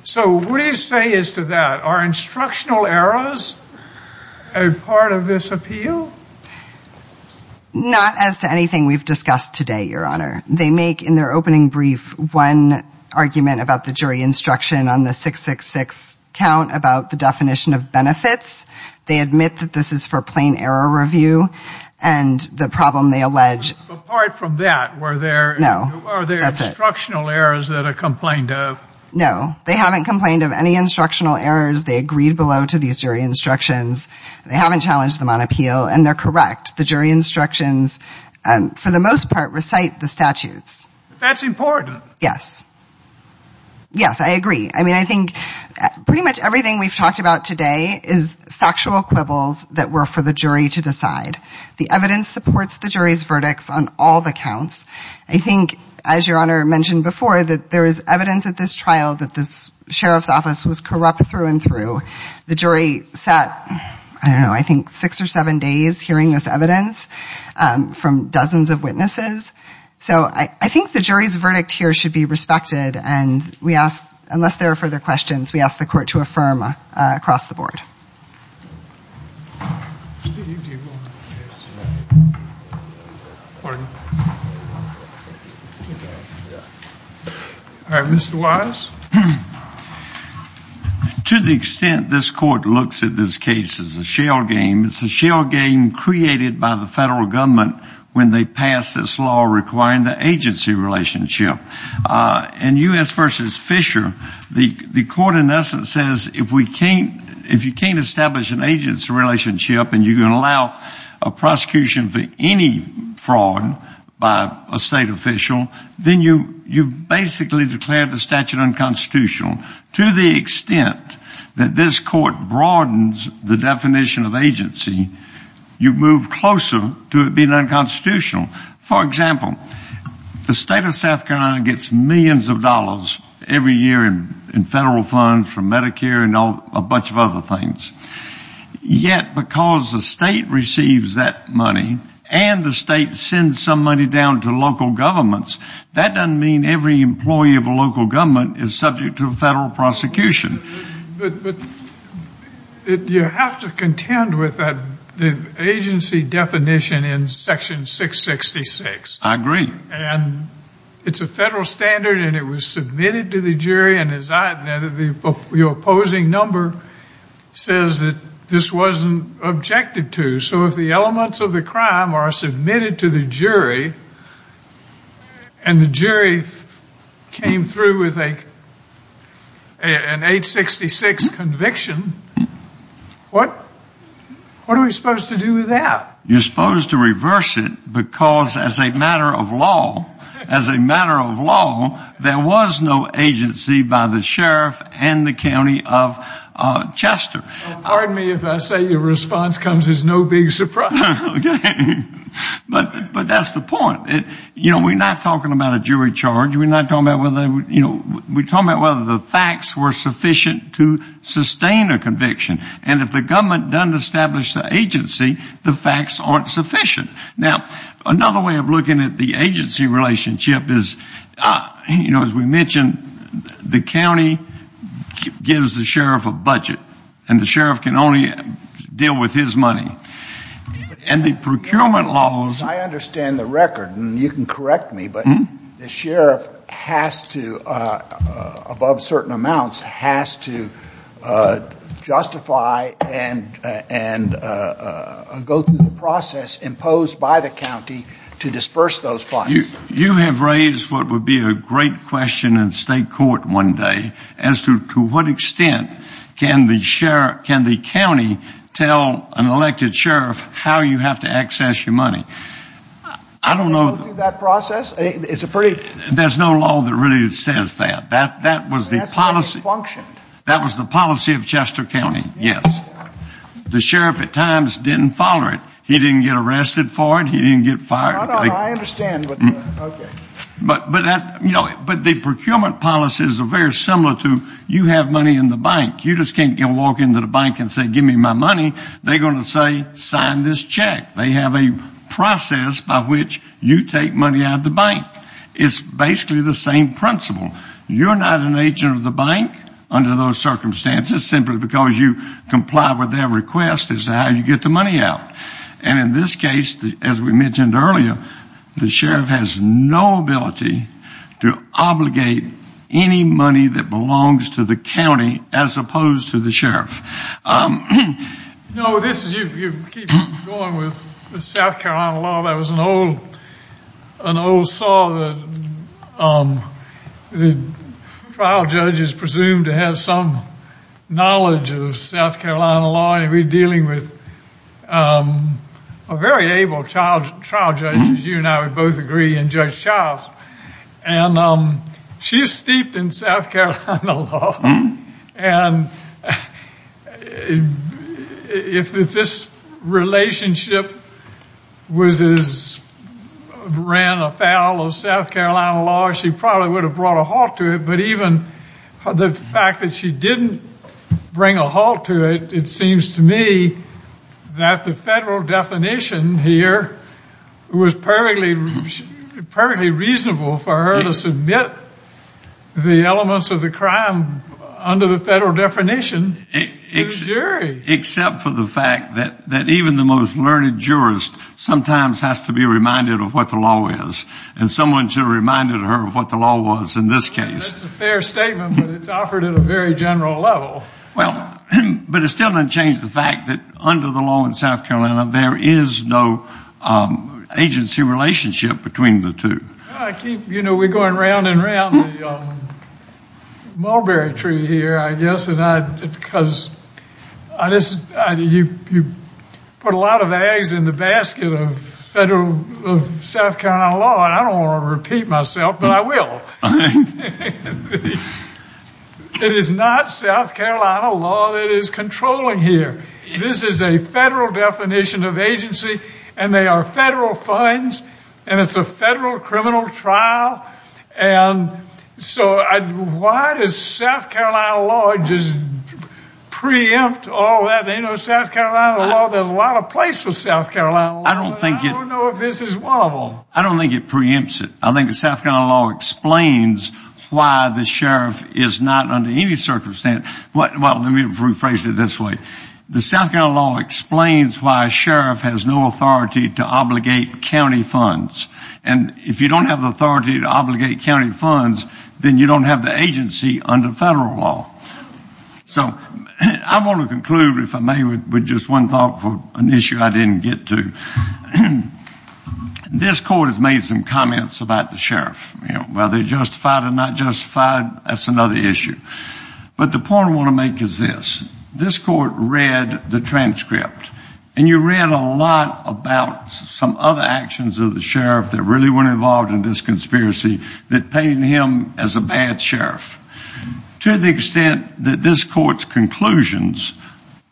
So what do you say as to that? Are instructional errors a part of this appeal? Not as to anything we've discussed today, Your Honor. They make in their opening brief one argument about the jury instruction on the 666 count about the definition of benefits. They admit that this is for plain error review, and the problem they allege — Apart from that, were there — No, that's it. Are there instructional errors that are complained of? No, they haven't complained of any instructional errors. They agreed below to these jury instructions. They haven't challenged them on appeal, and they're correct. For the most part, recite the statutes. That's important. Yes. Yes, I agree. I mean, I think pretty much everything we've talked about today is factual quibbles that were for the jury to decide. The evidence supports the jury's verdicts on all the counts. I think, as Your Honor mentioned before, that there is evidence at this trial that this sheriff's office was corrupt through and through. The jury sat, I don't know, I think six or seven days hearing this evidence from dozens of witnesses. So I think the jury's verdict here should be respected, and we ask — unless there are further questions, we ask the court to affirm across the board. All right, Mr. Wise? To the extent this court looks at this case as a shell game, it's a shell game created by the federal government when they passed this law requiring the agency relationship. In U.S. v. Fisher, the court in essence says if you can't establish an agency relationship and you can allow a prosecution for any fraud by a state official, then you've basically declared the statute unconstitutional. To the extent that this court broadens the definition of agency, you move closer to it being unconstitutional. For example, the state of South Carolina gets millions of dollars every year in federal funds from Medicare and a bunch of other things. Yet because the state receives that money and the state sends some money down to local governments, that doesn't mean every employee of a local government is subject to a federal prosecution. But you have to contend with the agency definition in section 666. I agree. And it's a federal standard, and it was submitted to the jury, and as I have noted, your opposing number says that this wasn't objected to. So if the elements of the crime are submitted to the jury and the jury came through with an 866 conviction, what are we supposed to do with that? You're supposed to reverse it because as a matter of law, as a matter of law, there was no agency by the sheriff and the county of Chester. Pardon me if I say your response comes as no big surprise. But that's the point. We're not talking about a jury charge. We're talking about whether the facts were sufficient to sustain a conviction. And if the government doesn't establish the agency, the facts aren't sufficient. Now, another way of looking at the agency relationship is, you know, as we mentioned, the county gives the sheriff a budget, and the sheriff can only deal with his money. And the procurement laws... I understand the record, and you can correct me, but the sheriff has to, above certain amounts, has to justify and go through the process imposed by the county to disperse those funds. You have raised what would be a great question in state court one day as to what extent can the county tell an elected sheriff how you have to access your money. I don't know... Go through that process? There's no law that really says that. That was the policy. That's how they function. That was the policy of Chester County, yes. The sheriff at times didn't follow it. He didn't get arrested for it. He didn't get fired. I understand. Okay. But the procurement policies are very similar to you have money in the bank. You just can't walk into the bank and say give me my money. They're going to say sign this check. They have a process by which you take money out of the bank. It's basically the same principle. You're not an agent of the bank under those circumstances simply because you comply with their request as to how you get the money out. And in this case, as we mentioned earlier, the sheriff has no ability to obligate any money that belongs to the county as opposed to the sheriff. No, this is you. You keep going with the South Carolina law. That was an old saw that the trial judges presumed to have some knowledge of South Carolina law. We're dealing with a very able trial judge, as you and I would both agree, and Judge Childs. And she's steeped in South Carolina law. And if this relationship was as grand a foul of South Carolina law, she probably would have brought a halt to it. But even the fact that she didn't bring a halt to it, it seems to me that the federal definition here was perfectly reasonable for her to submit the elements of the crime under the federal definition to the jury. Except for the fact that even the most learned jurist sometimes has to be reminded of what the law is. And someone should have reminded her of what the law was in this case. That's a fair statement, but it's offered at a very general level. Well, but it still doesn't change the fact that under the law in South Carolina, there is no agency relationship between the two. You know, we're going round and round the mulberry tree here, I guess, because you put a lot of eggs in the basket of South Carolina law. And I don't want to repeat myself, but I will. It is not South Carolina law that is controlling here. This is a federal definition of agency, and they are federal funds, and it's a federal criminal trial. And so why does South Carolina law just preempt all that? You know, South Carolina law, there's a lot of place for South Carolina law, but I don't know if this is one of them. I don't think it preempts it. I think South Carolina law explains why the sheriff is not under any circumstance. Well, let me rephrase it this way. The South Carolina law explains why a sheriff has no authority to obligate county funds. And if you don't have the authority to obligate county funds, then you don't have the agency under federal law. So I want to conclude, if I may, with just one thought for an issue I didn't get to. You know, whether they're justified or not justified, that's another issue. But the point I want to make is this. This court read the transcript, and you read a lot about some other actions of the sheriff that really were involved in this conspiracy that pained him as a bad sheriff. To the extent that this court's conclusions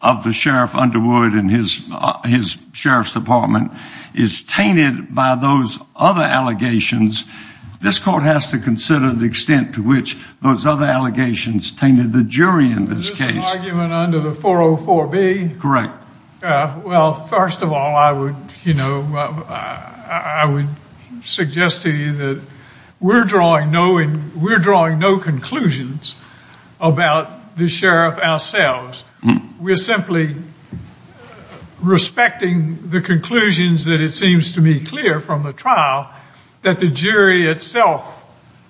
of the sheriff Underwood and his sheriff's department is tainted by those other allegations, this court has to consider the extent to which those other allegations tainted the jury in this case. Is this an argument under the 404B? Correct. Well, first of all, I would suggest to you that we're drawing no conclusions about the sheriff ourselves. We're simply respecting the conclusions that it seems to me clear from the trial that the jury itself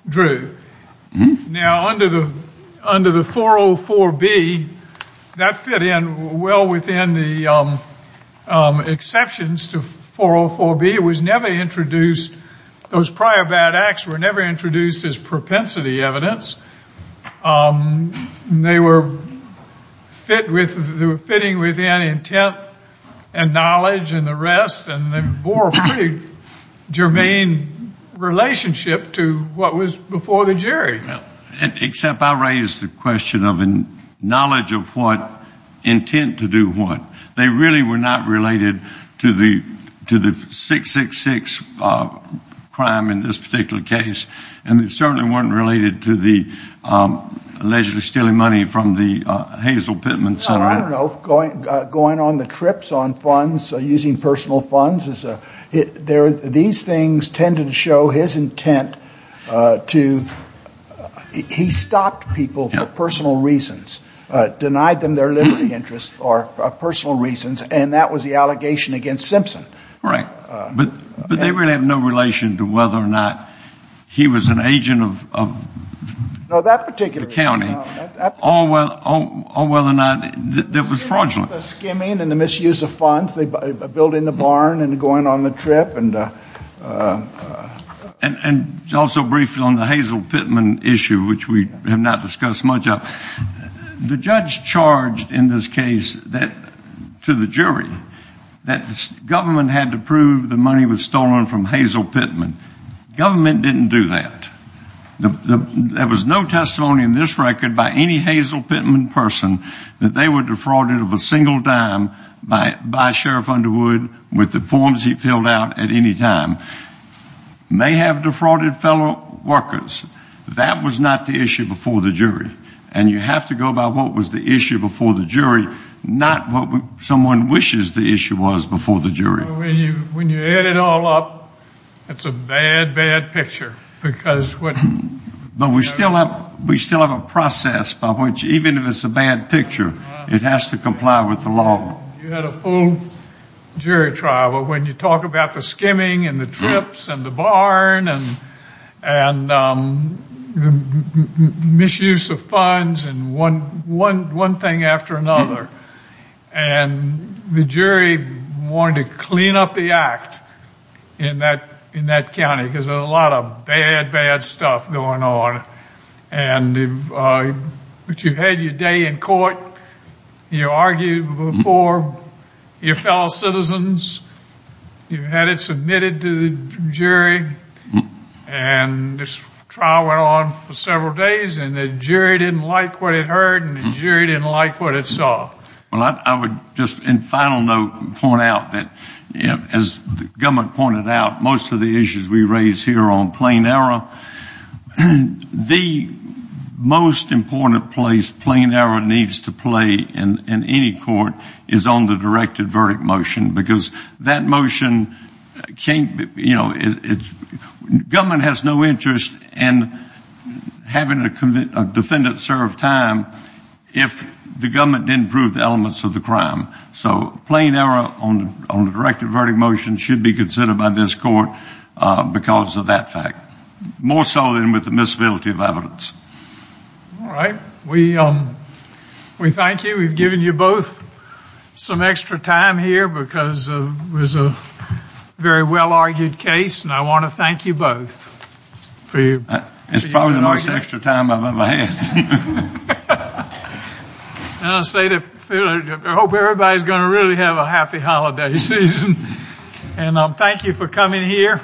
drew. Now, under the 404B, that fit in well within the exceptions to 404B. It was never introduced. Those prior bad acts were never introduced as propensity evidence. They were fitting within intent and knowledge and the rest, and they bore a pretty germane relationship to what was before the jury. Except I raised the question of knowledge of what, intent to do what. They really were not related to the 666 crime in this particular case, and they certainly weren't related to the allegedly stealing money from the Hazel Pittman Center. I don't know. Going on the trips on funds, using personal funds, these things tended to show his intent to, he stopped people for personal reasons, denied them their liberty interests for personal reasons, and that was the allegation against Simpson. Correct. But they really have no relation to whether or not he was an agent of the county or whether or not there was fraudulence. Skimming and the misuse of funds, building the barn and going on the trip. And also briefly on the Hazel Pittman issue, which we have not discussed much. The judge charged in this case to the jury that the government had to prove the money was stolen from Hazel Pittman. Government didn't do that. There was no testimony in this record by any Hazel Pittman person that they were defrauded of a single dime by Sheriff Underwood with the forms he filled out at any time. May have defrauded fellow workers. That was not the issue before the jury. And you have to go by what was the issue before the jury, not what someone wishes the issue was before the jury. When you add it all up, it's a bad, bad picture. But we still have a process by which, even if it's a bad picture, it has to comply with the law. You had a full jury trial, but when you talk about the skimming and the trips and the barn and the misuse of funds and one thing after another, and the jury wanted to clean up the act in that county because there's a lot of bad, bad stuff going on. But you had your day in court. You argued before your fellow citizens. You had it submitted to the jury. And this trial went on for several days, and the jury didn't like what it heard, and the jury didn't like what it saw. I would just in final note point out that, as the government pointed out, most of the issues we raise here are on plain error. The most important place plain error needs to play in any court is on the directed verdict motion, because that motion can't, you know, government has no interest in having a defendant serve time if the government didn't prove the elements of the crime. So plain error on the directed verdict motion should be considered by this court because of that fact. More so than with the miscibility of evidence. All right. We thank you. We've given you both some extra time here because it was a very well-argued case, and I want to thank you both. It's probably the most extra time I've ever had. I hope everybody's going to really have a happy holiday season. And thank you for coming here,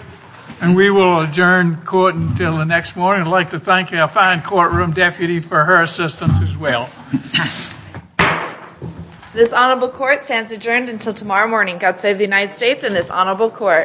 and we will adjourn court until the next morning. I'd like to thank our fine courtroom deputy for her assistance as well. This honorable court stands adjourned until tomorrow morning. God save the United States and this honorable court.